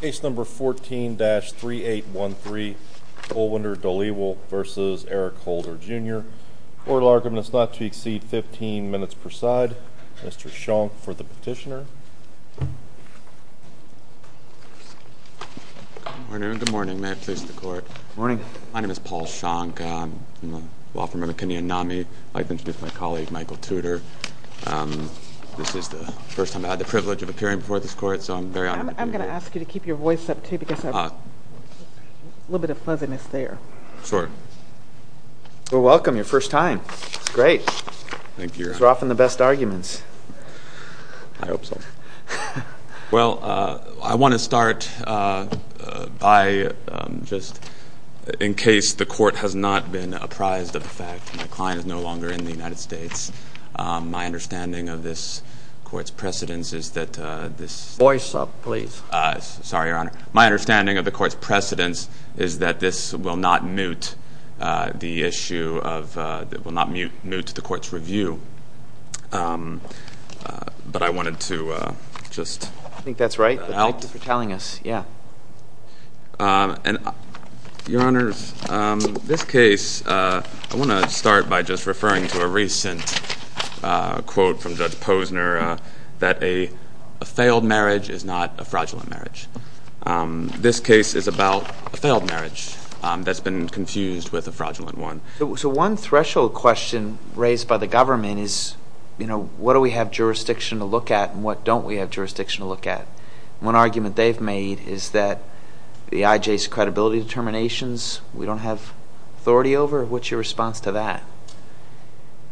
Case number 14-3813, Goldwinder Dhaliwal v. Eric Holder, Jr. Court will argue that it is not to exceed 15 minutes per side. Mr. Shonk for the petitioner. Good morning. May I please the court? Good morning. My name is Paul Shonk. I'm a law firm member of Kennedy and NAMI. I'd like to introduce my colleague, Michael Tudor. This is the first time I had the privilege of appearing before this court, so I'm very honored to be here. I'm going to ask you to keep your voice up, too, because there's a little bit of fuzziness there. Sure. Well, welcome. Your first time. Great. Thank you. These are often the best arguments. I hope so. Well, I want to start by just, in case the court has not been apprised of the fact that my client is no longer in the United States, my understanding of this court's precedence is that this- Voice up, please. Sorry, Your Honor. My understanding of the court's precedence is that this will not mute the issue of- will not mute the court's review. But I wanted to just- I think that's right. Thank you for telling us. Yeah. Your Honors, this case- I want to start by just referring to a recent quote from Judge Posner that a failed marriage is not a fraudulent marriage. This case is about a failed marriage that's been confused with a fraudulent one. So one threshold question raised by the government is, you know, what do we have jurisdiction to look at and what don't we have jurisdiction to look at? One argument they've made is that the IJ's credibility determinations we don't have authority over. What's your response to that?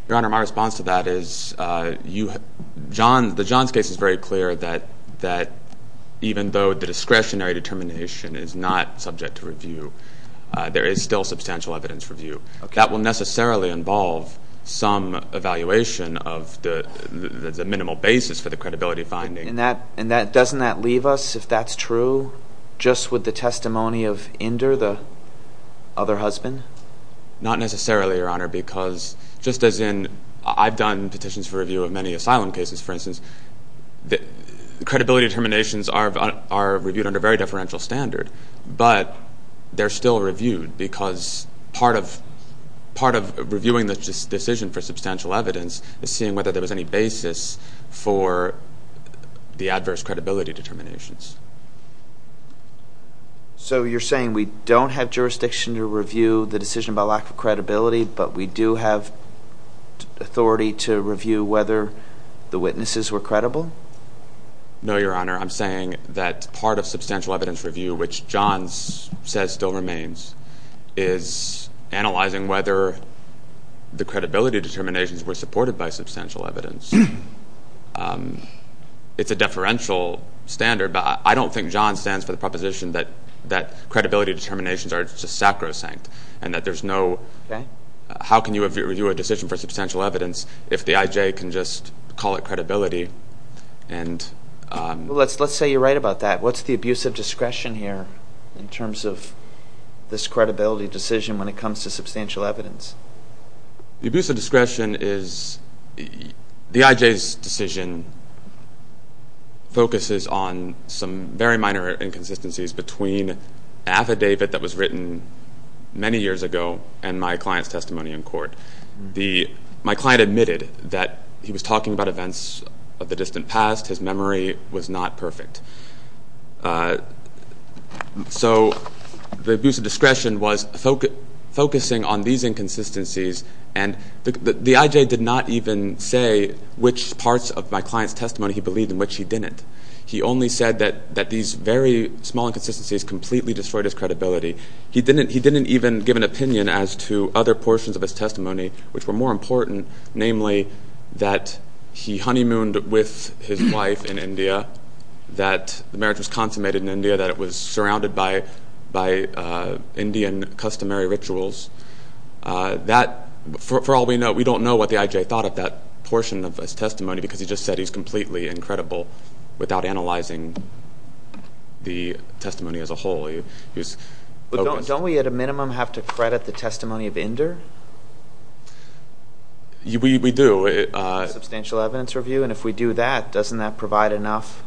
Your Honor, my response to that is the Johns case is very clear that even though the discretionary determination is not subject to review, there is still substantial evidence review. That will necessarily involve some evaluation of the minimal basis for the credibility finding. And that- and that- doesn't that leave us, if that's true, just with the testimony of Inder, the other husband? Not necessarily, Your Honor, because just as in- I've done petitions for review of many asylum cases, for instance. Credibility determinations are reviewed under very deferential standard, but they're still reviewed because part of- is seeing whether there was any basis for the adverse credibility determinations. So you're saying we don't have jurisdiction to review the decision about lack of credibility, but we do have authority to review whether the witnesses were credible? No, Your Honor. I'm saying that part of substantial evidence review, which Johns says still remains, is analyzing whether the credibility determinations were supported by substantial evidence. It's a deferential standard, but I don't think Johns stands for the proposition that credibility determinations are just sacrosanct and that there's no- how can you review a decision for substantial evidence if the IJ can just call it credibility and- Well, let's say you're right about that. What's the abuse of discretion here in terms of this credibility decision when it comes to substantial evidence? The abuse of discretion is- the IJ's decision focuses on some very minor inconsistencies between affidavit that was written many years ago and my client's testimony in court. My client admitted that he was talking about events of the distant past. His memory was not perfect. So the abuse of discretion was focusing on these inconsistencies, and the IJ did not even say which parts of my client's testimony he believed and which he didn't. He only said that these very small inconsistencies completely destroyed his credibility. He didn't even give an opinion as to other portions of his testimony which were more important, namely that he honeymooned with his wife in India, that marriage was consummated in India, that it was surrounded by Indian customary rituals. That, for all we know, we don't know what the IJ thought of that portion of his testimony because he just said he's completely incredible without analyzing the testimony as a whole. Don't we at a minimum have to credit the testimony of Inder? We do. Substantial evidence review, and if we do that, doesn't that provide enough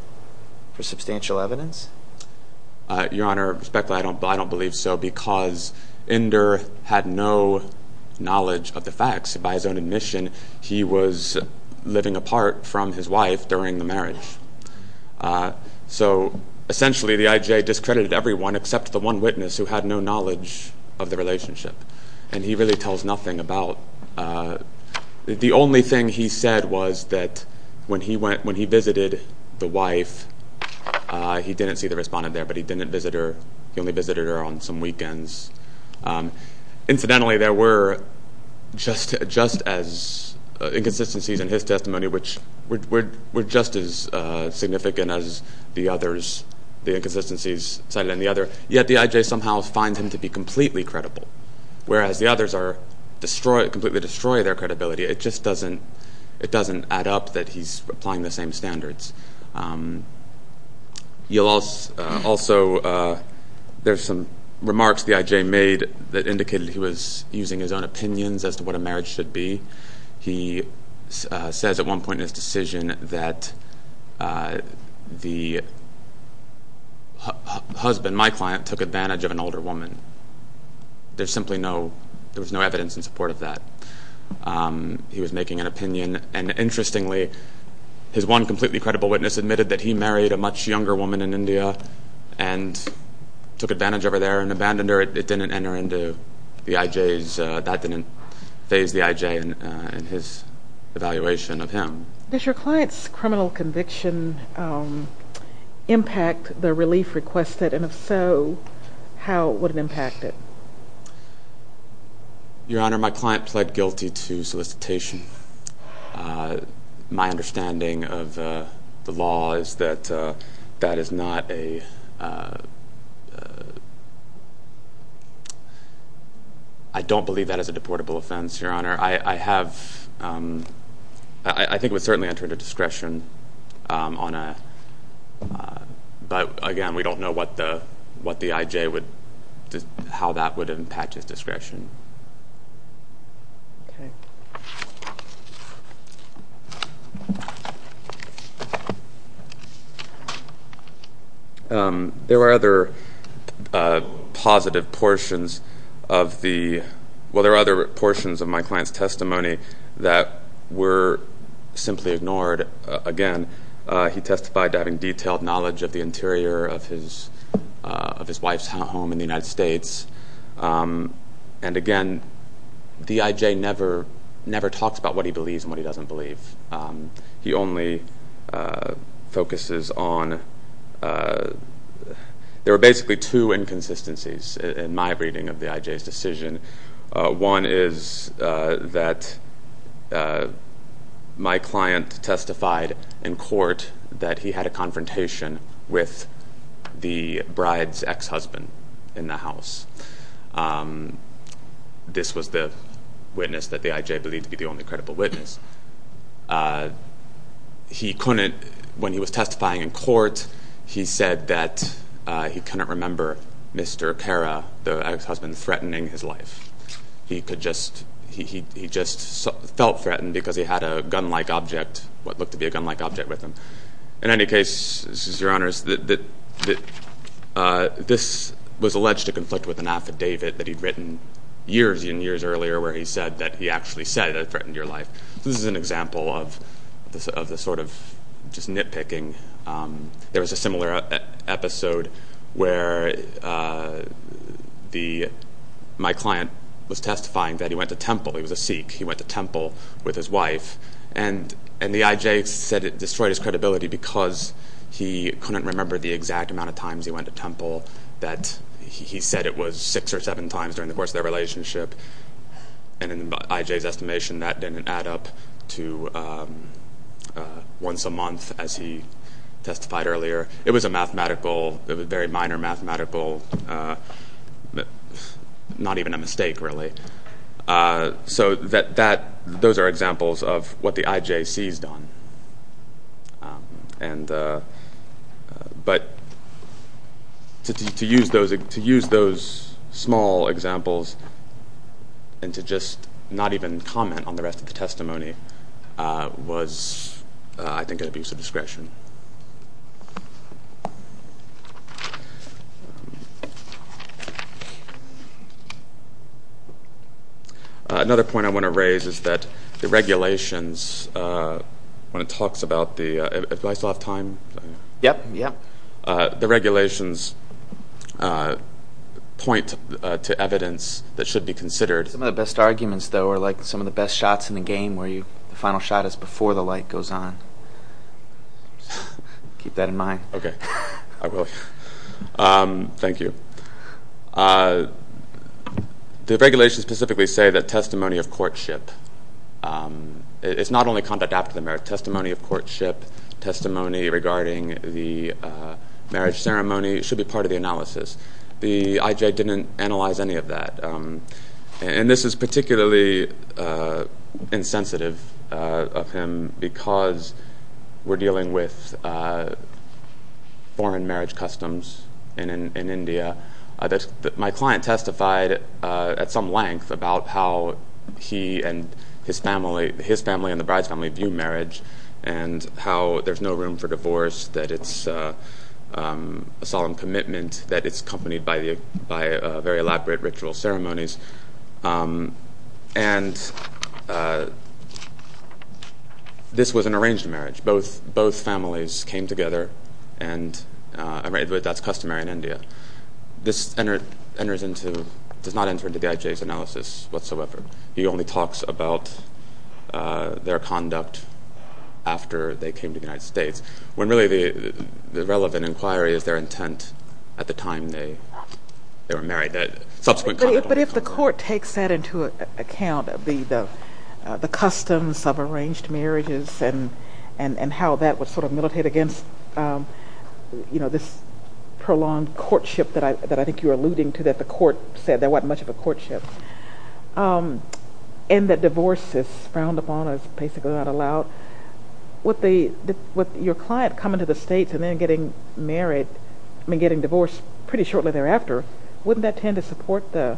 for substantial evidence? Your Honor, respectfully, I don't believe so because Inder had no knowledge of the facts. By his own admission, he was living apart from his wife during the marriage. So essentially the IJ discredited everyone except the one witness who had no knowledge of the relationship, and he really tells nothing about it. The only thing he said was that when he visited the wife, he didn't see the respondent there, but he didn't visit her. He only visited her on some weekends. Incidentally, there were just as inconsistencies in his testimony which were just as significant as the inconsistencies cited in the other, yet the IJ somehow finds him to be completely credible, whereas the others completely destroy their credibility. It just doesn't add up that he's applying the same standards. Also, there's some remarks the IJ made that indicated he was using his own opinions as to what a marriage should be. He says at one point in his decision that the husband, my client, took advantage of an older woman. There's simply no evidence in support of that. He was making an opinion, and interestingly, his one completely credible witness admitted that he married a much younger woman in India and took advantage of her there and abandoned her. However, it didn't enter into the IJ's, that didn't phase the IJ in his evaluation of him. Does your client's criminal conviction impact the relief requested, and if so, how would it impact it? Your Honor, my client pled guilty to solicitation. My understanding of the law is that that is not a, I don't believe that is a deportable offense, Your Honor. I have, I think it would certainly enter into discretion on a, but again, we don't know what the IJ would, how that would impact his discretion. Okay. There were other positive portions of the, well, there were other portions of my client's testimony that were simply ignored. Again, he testified to having detailed knowledge of the interior of his wife's home in the United States, and again, the IJ never talks about what he believes and what he doesn't believe. He only focuses on, there are basically two inconsistencies in my reading of the IJ's decision. One is that my client testified in court that he had a confrontation with the bride's ex-husband in the house. This was the witness that the IJ believed to be the only credible witness. He couldn't, when he was testifying in court, he said that he couldn't remember Mr. Pera, the ex-husband, threatening his life. He could just, he just felt threatened because he had a gun-like object, what looked to be a gun-like object with him. In any case, this is Your Honors, this was alleged to conflict with an affidavit that he'd written years and years earlier where he said that he actually said I threatened your life. This is an example of the sort of just nitpicking. There was a similar episode where the, my client was testifying that he went to Temple. He was a Sikh. He went to Temple with his wife and the IJ said it destroyed his credibility because he couldn't remember the exact amount of times he went to Temple. That he said it was six or seven times during the course of their relationship. And in the IJ's estimation, that didn't add up to once a month as he testified earlier. It was a mathematical, it was very minor mathematical, not even a mistake really. So that, that, those are examples of what the IJ sees done. And, but, to use those, to use those small examples and to just not even comment on the rest of the testimony was, I think, an abuse of discretion. Another point I want to raise is that the regulations, when it talks about the, do I still have time? Yep, yep. The regulations point to evidence that should be considered. Some of the best arguments though are like some of the best shots in the game where you, the final shot is before the light goes on. Keep that in mind. Okay, I will. Thank you. The regulations specifically say that testimony of courtship, it's not only conduct after the marriage. Testimony of courtship, testimony regarding the marriage ceremony should be part of the analysis. The IJ didn't analyze any of that. And this is particularly insensitive of him because we're dealing with foreign marriage customs in India. My client testified at some length about how he and his family, his family and the bride's family view marriage. And how there's no room for divorce, that it's a solemn commitment, that it's accompanied by very elaborate ritual ceremonies. And this was an arranged marriage. Both families came together and that's customary in India. This enters into, does not enter into the IJ's analysis whatsoever. He only talks about their conduct after they came to the United States. When really the relevant inquiry is their intent at the time they were married. But if the court takes that into account, the customs of arranged marriages and how that was sort of militated against this prolonged courtship that I think you're alluding to that the court said there wasn't much of a courtship. And that divorce is frowned upon as basically not allowed. With your client coming to the States and then getting married, I mean getting divorced pretty shortly thereafter, wouldn't that tend to support the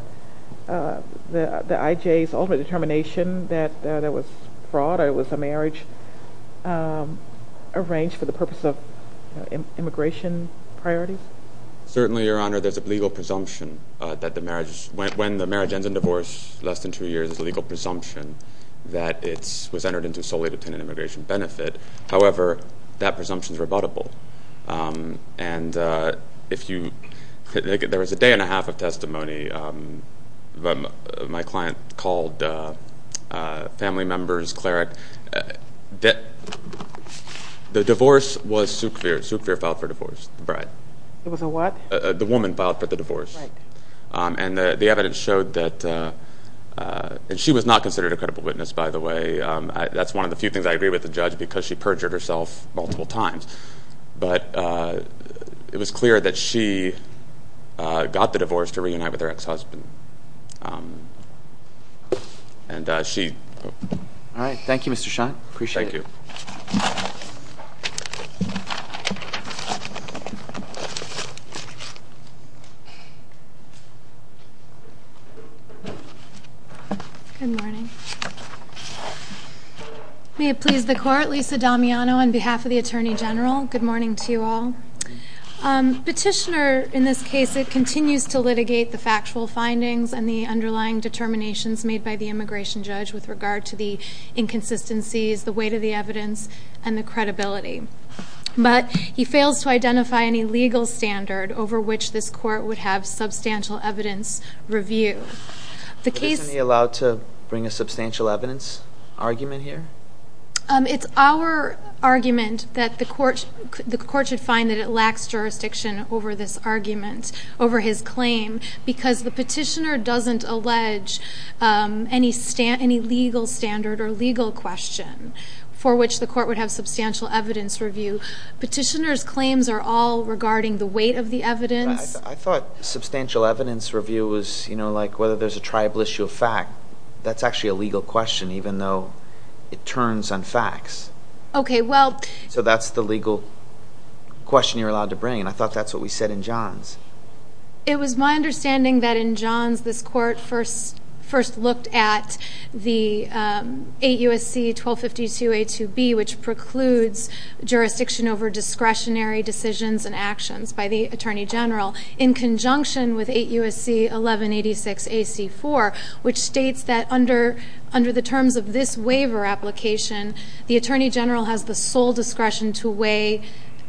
IJ's ultimate determination that it was fraud or it was a marriage arranged for the purpose of immigration priorities? Certainly, Your Honor, there's a legal presumption that the marriage, when the marriage ends in divorce less than two years, there's a legal presumption that it was entered into solely to tend to an immigration benefit. However, that presumption is rebuttable. And if you, there was a day and a half of testimony. The divorce was Sukvir. Sukvir filed for divorce, the bride. It was a what? The woman filed for the divorce. Right. And the evidence showed that, and she was not considered a credible witness, by the way. That's one of the few things I agree with the judge because she perjured herself multiple times. But it was clear that she got the divorce to reunite with her ex-husband. And she. All right. Thank you, Mr. Schant. Appreciate it. Thank you. Good morning. May it please the Court. Lisa Damiano on behalf of the Attorney General. Good morning to you all. Petitioner, in this case, continues to litigate the factual findings and the underlying determinations made by the immigration judge with regard to the inconsistencies, the weight of the evidence, and the credibility. But he fails to identify any legal standard over which this court would have substantial evidence review. The case. Isn't he allowed to bring a substantial evidence argument here? It's our argument that the court should find that it lacks jurisdiction over this argument, over his claim, because the petitioner doesn't allege any legal standard or legal question for which the court would have substantial evidence review. Petitioner's claims are all regarding the weight of the evidence. I thought substantial evidence review was, you know, like whether there's a tribal issue of fact. That's actually a legal question, even though it turns on facts. Okay, well... So that's the legal question you're allowed to bring, and I thought that's what we said in Johns. It was my understanding that in Johns, this court first looked at the 8 U.S.C. 1252a2b, which precludes jurisdiction over discretionary decisions and actions by the Attorney General, in conjunction with 8 U.S.C. 1186a.c.4, which states that under the terms of this waiver application, the Attorney General has the sole discretion to weigh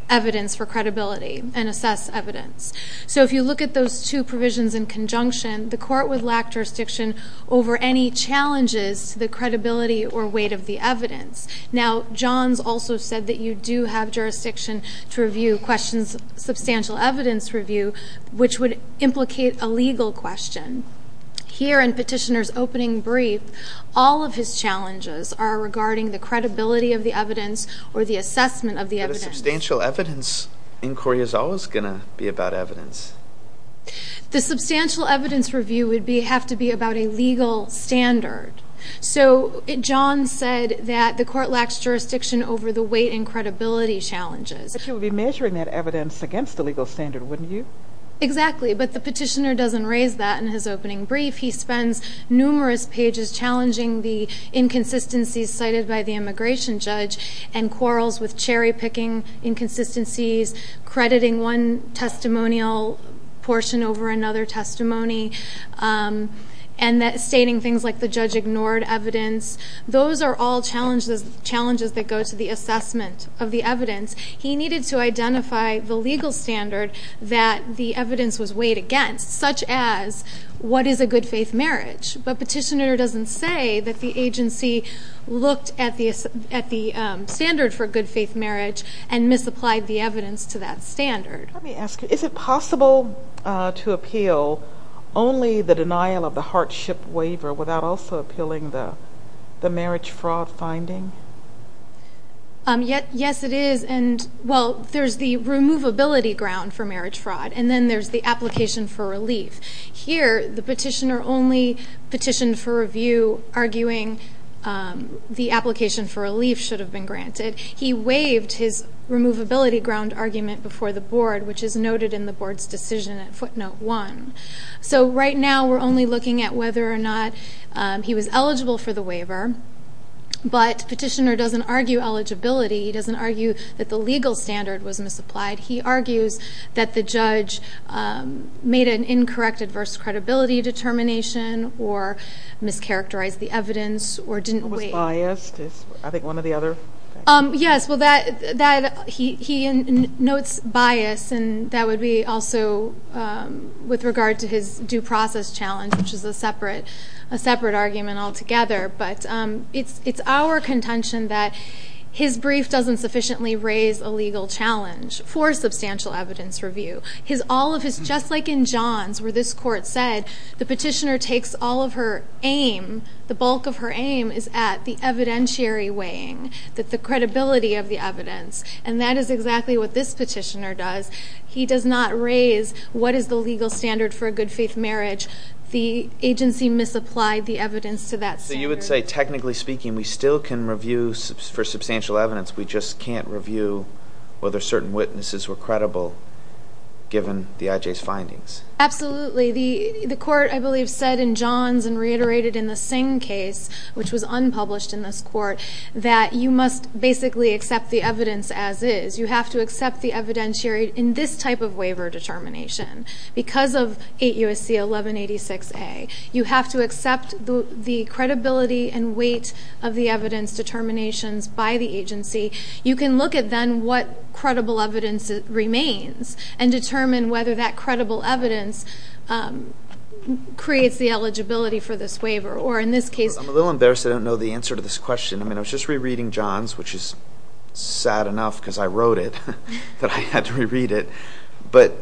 evidence for credibility and assess evidence. So if you look at those two provisions in conjunction, the court would lack jurisdiction over any challenges to the credibility or weight of the evidence. Now, Johns also said that you do have jurisdiction to review questions of substantial evidence review, which would implicate a legal question. Here in Petitioner's opening brief, all of his challenges are regarding the credibility of the evidence or the assessment of the evidence. But a substantial evidence inquiry is always going to be about evidence. The substantial evidence review would have to be about a legal standard. So Johns said that the court lacks jurisdiction over the weight and credibility challenges. But you would be measuring that evidence against a legal standard, wouldn't you? Exactly, but the Petitioner doesn't raise that in his opening brief. He spends numerous pages challenging the inconsistencies cited by the immigration judge and quarrels with cherry-picking inconsistencies, crediting one testimonial portion over another testimony, and stating things like the judge ignored evidence. Those are all challenges that go to the assessment of the evidence. He needed to identify the legal standard that the evidence was weighed against, such as what is a good-faith marriage. But Petitioner doesn't say that the agency looked at the standard for good-faith marriage and misapplied the evidence to that standard. Let me ask you, is it possible to appeal only the denial of the hardship waiver without also appealing the marriage fraud finding? Yes, it is. And, well, there's the removability ground for marriage fraud, and then there's the application for relief. Here, the Petitioner only petitioned for review, arguing the application for relief should have been granted. He waived his removability ground argument before the Board, which is noted in the Board's decision at footnote 1. So right now we're only looking at whether or not he was eligible for the waiver, but Petitioner doesn't argue eligibility. He doesn't argue that the legal standard was misapplied. He argues that the judge made an incorrect adverse credibility determination or mischaracterized the evidence or didn't weigh it. Is he biased? I think one or the other. Yes, well, he notes bias, and that would be also with regard to his due process challenge, which is a separate argument altogether. But it's our contention that his brief doesn't sufficiently raise a legal challenge for substantial evidence review. All of his, just like in Johns, where this Court said the Petitioner takes all of her aim, the bulk of her aim is at the evidentiary weighing, the credibility of the evidence. And that is exactly what this Petitioner does. He does not raise what is the legal standard for a good-faith marriage. The agency misapplied the evidence to that standard. So you would say, technically speaking, we still can review for substantial evidence. We just can't review whether certain witnesses were credible given the IJ's findings. Absolutely. The Court, I believe, said in Johns and reiterated in the Singh case, which was unpublished in this Court, that you must basically accept the evidence as is. You have to accept the evidentiary in this type of waiver determination. Because of 8 U.S.C. 1186a, you have to accept the credibility and weight of the evidence determinations by the agency. You can look at then what credible evidence remains and determine whether that credible evidence creates the eligibility for this waiver. Or in this case... I'm a little embarrassed I don't know the answer to this question. I mean, I was just rereading Johns, which is sad enough because I wrote it, but I had to reread it. But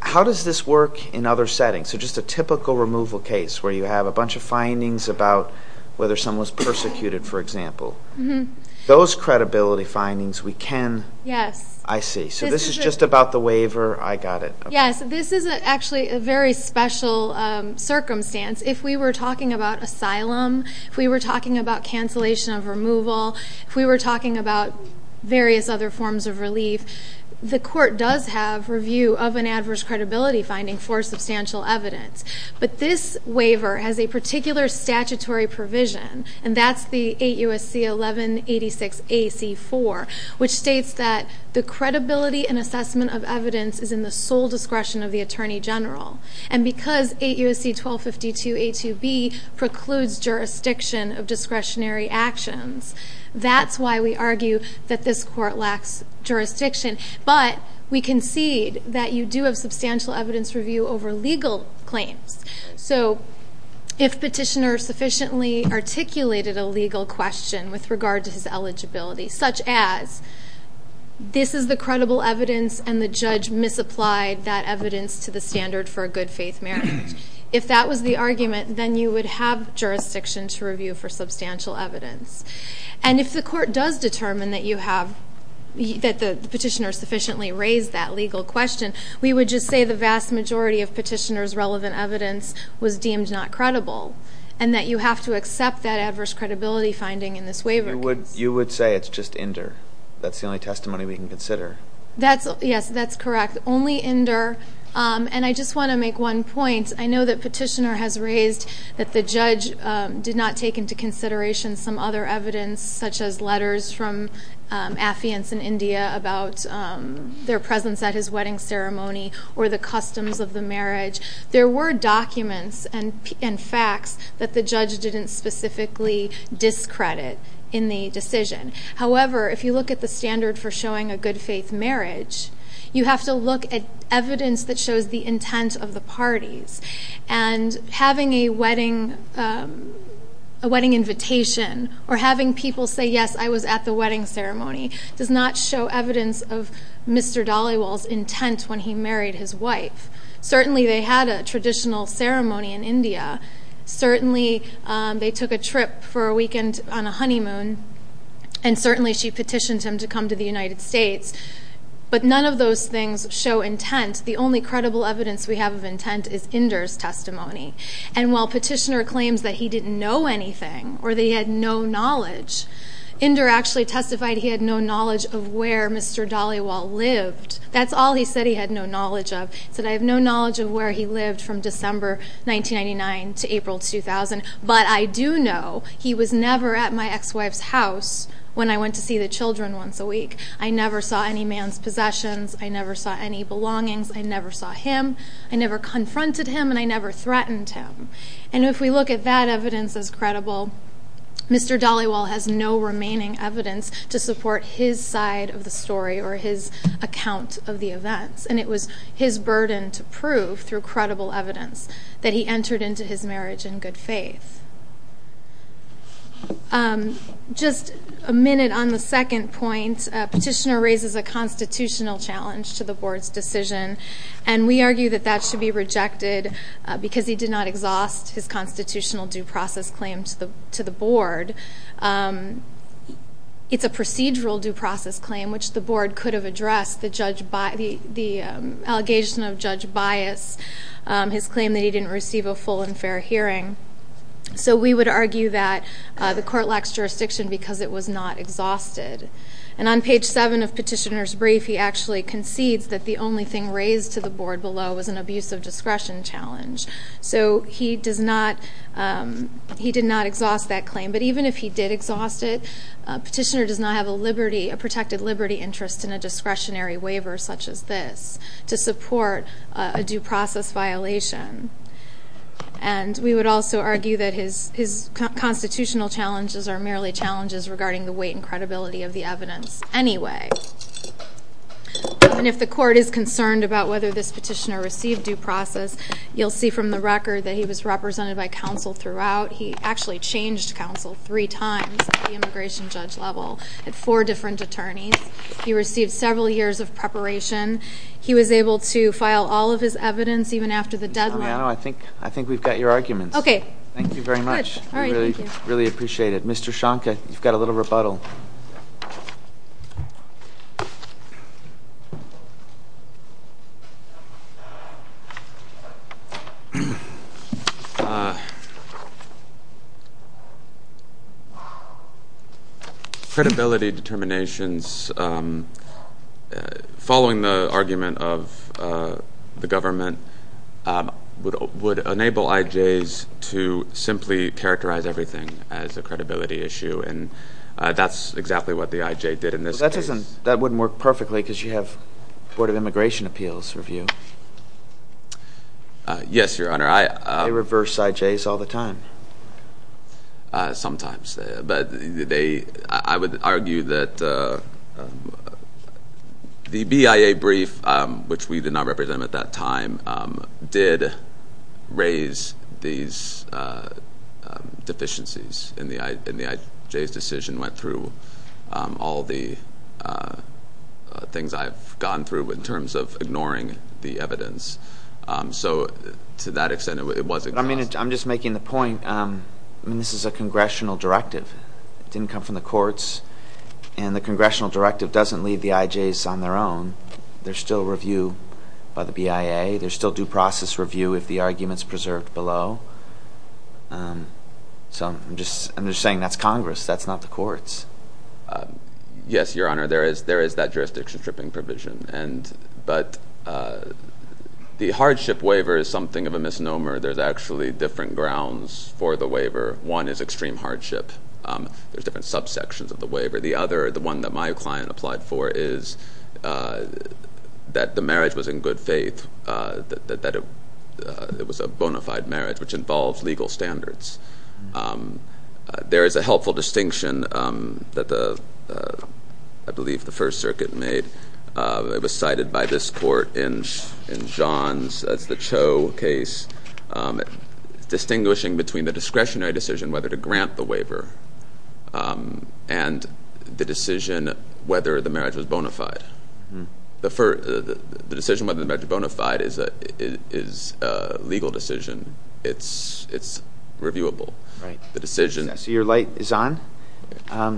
how does this work in other settings? So just a typical removal case, where you have a bunch of findings about whether someone was persecuted, for example. Those credibility findings we can... Yes. I see. So this is just about the waiver. I got it. Yes. This is actually a very special circumstance. If we were talking about asylum, if we were talking about cancellation of removal, if we were talking about various other forms of relief, the Court does have review of an adverse credibility finding for substantial evidence. But this waiver has a particular statutory provision, and that's the 8 U.S.C. 1186a.c.4, which states that the credibility and assessment of evidence is in the sole discretion of the Attorney General. And because 8 U.S.C. 1252a.2b precludes jurisdiction of discretionary actions, that's why we argue that this Court lacks jurisdiction. But we concede that you do have substantial evidence review over legal claims. So if petitioner sufficiently articulated a legal question with regard to his eligibility, such as this is the credible evidence and the judge misapplied that evidence to the standard for a good faith marriage, if that was the argument, then you would have jurisdiction to review for substantial evidence. And if the Court does determine that you have, that the petitioner sufficiently raised that legal question, we would just say the vast majority of petitioner's relevant evidence was deemed not credible and that you have to accept that adverse credibility finding in this waiver case. You would say it's just Inder. That's the only testimony we can consider. Yes, that's correct. Only Inder. And I just want to make one point. I know that petitioner has raised that the judge did not take into consideration some other evidence, such as letters from affiants in India about their presence at his wedding ceremony or the customs of the marriage. There were documents and facts that the judge didn't specifically discredit in the decision. However, if you look at the standard for showing a good faith marriage, you have to look at evidence that shows the intent of the parties. And having a wedding invitation or having people say, yes, I was at the wedding ceremony, does not show evidence of Mr. Dollywell's intent when he married his wife. Certainly they had a traditional ceremony in India. Certainly they took a trip for a weekend on a honeymoon. And certainly she petitioned him to come to the United States. But none of those things show intent. The only credible evidence we have of intent is Inder's testimony. And while petitioner claims that he didn't know anything or that he had no knowledge, Inder actually testified he had no knowledge of where Mr. Dollywell lived. That's all he said he had no knowledge of. He said, I have no knowledge of where he lived from December 1999 to April 2000. But I do know he was never at my ex-wife's house when I went to see the children once a week. I never saw any man's possessions. I never saw any belongings. I never saw him. I never confronted him. And I never threatened him. And if we look at that evidence as credible, Mr. Dollywell has no remaining evidence to support his side of the story or his account of the events. And it was his burden to prove through credible evidence that he entered into his marriage in good faith. Just a minute on the second point. Petitioner raises a constitutional challenge to the board's decision. And we argue that that should be rejected because he did not exhaust his constitutional due process claim to the board. It's a procedural due process claim, which the board could have addressed. The allegation of Judge Bias, his claim that he didn't receive a full and fair hearing. So we would argue that the court lacks jurisdiction because it was not exhausted. And on page seven of Petitioner's brief, he actually concedes that the only thing raised to the board below was an abuse of discretion challenge. So he did not exhaust that claim. But even if he did exhaust it, Petitioner does not have a protected liberty interest in a discretionary waiver such as this to support a due process violation. And we would also argue that his constitutional challenges are merely challenges regarding the weight and credibility of the evidence anyway. And if the court is concerned about whether this petitioner received due process, you'll see from the record that he was represented by counsel throughout. He actually changed counsel three times at the immigration judge level at four different attorneys. He received several years of preparation. He was able to file all of his evidence even after the deadline. I think we've got your arguments. Okay. Thank you very much. Good. All right, thank you. We really appreciate it. Mr. Schonke, you've got a little rebuttal. Credibility determinations following the argument of the government would enable IJs to simply characterize everything as a credibility issue. And that's exactly what the IJ did in this case. That wouldn't work perfectly because you have Board of Immigration Appeals review. Yes, Your Honor. They reverse IJs all the time. Sometimes. But I would argue that the BIA brief, which we did not represent at that time, did raise these deficiencies. And the IJ's decision went through all the things I've gone through in terms of ignoring the evidence. So to that extent, it wasn't. But I'm just making the point. This is a congressional directive. It didn't come from the courts. And the congressional directive doesn't leave the IJs on their own. There's still review by the BIA. There's still due process review if the argument is preserved below. So I'm just saying that's Congress. That's not the courts. Yes, Your Honor. There is that jurisdiction stripping provision. But the hardship waiver is something of a misnomer. There's actually different grounds for the waiver. One is extreme hardship. There's different subsections of the waiver. The other, the one that my client applied for, is that the marriage was in good faith, that it was a bona fide marriage, which involves legal standards. There is a helpful distinction that I believe the First Circuit made. It was cited by this court in John's, that's the Cho case, distinguishing between the discretionary decision whether to grant the waiver and the decision whether the marriage was bona fide. The decision whether the marriage was bona fide is a legal decision. It's reviewable. Right. So your light is on.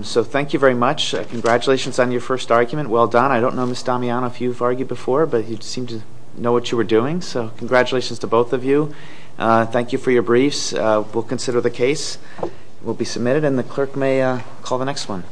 So thank you very much. Congratulations on your first argument. Well done. I don't know, Ms. Damiano, if you've argued before, but you seemed to know what you were doing. So congratulations to both of you. Thank you for your briefs. We'll consider the case. It will be submitted, and the clerk may call the next one.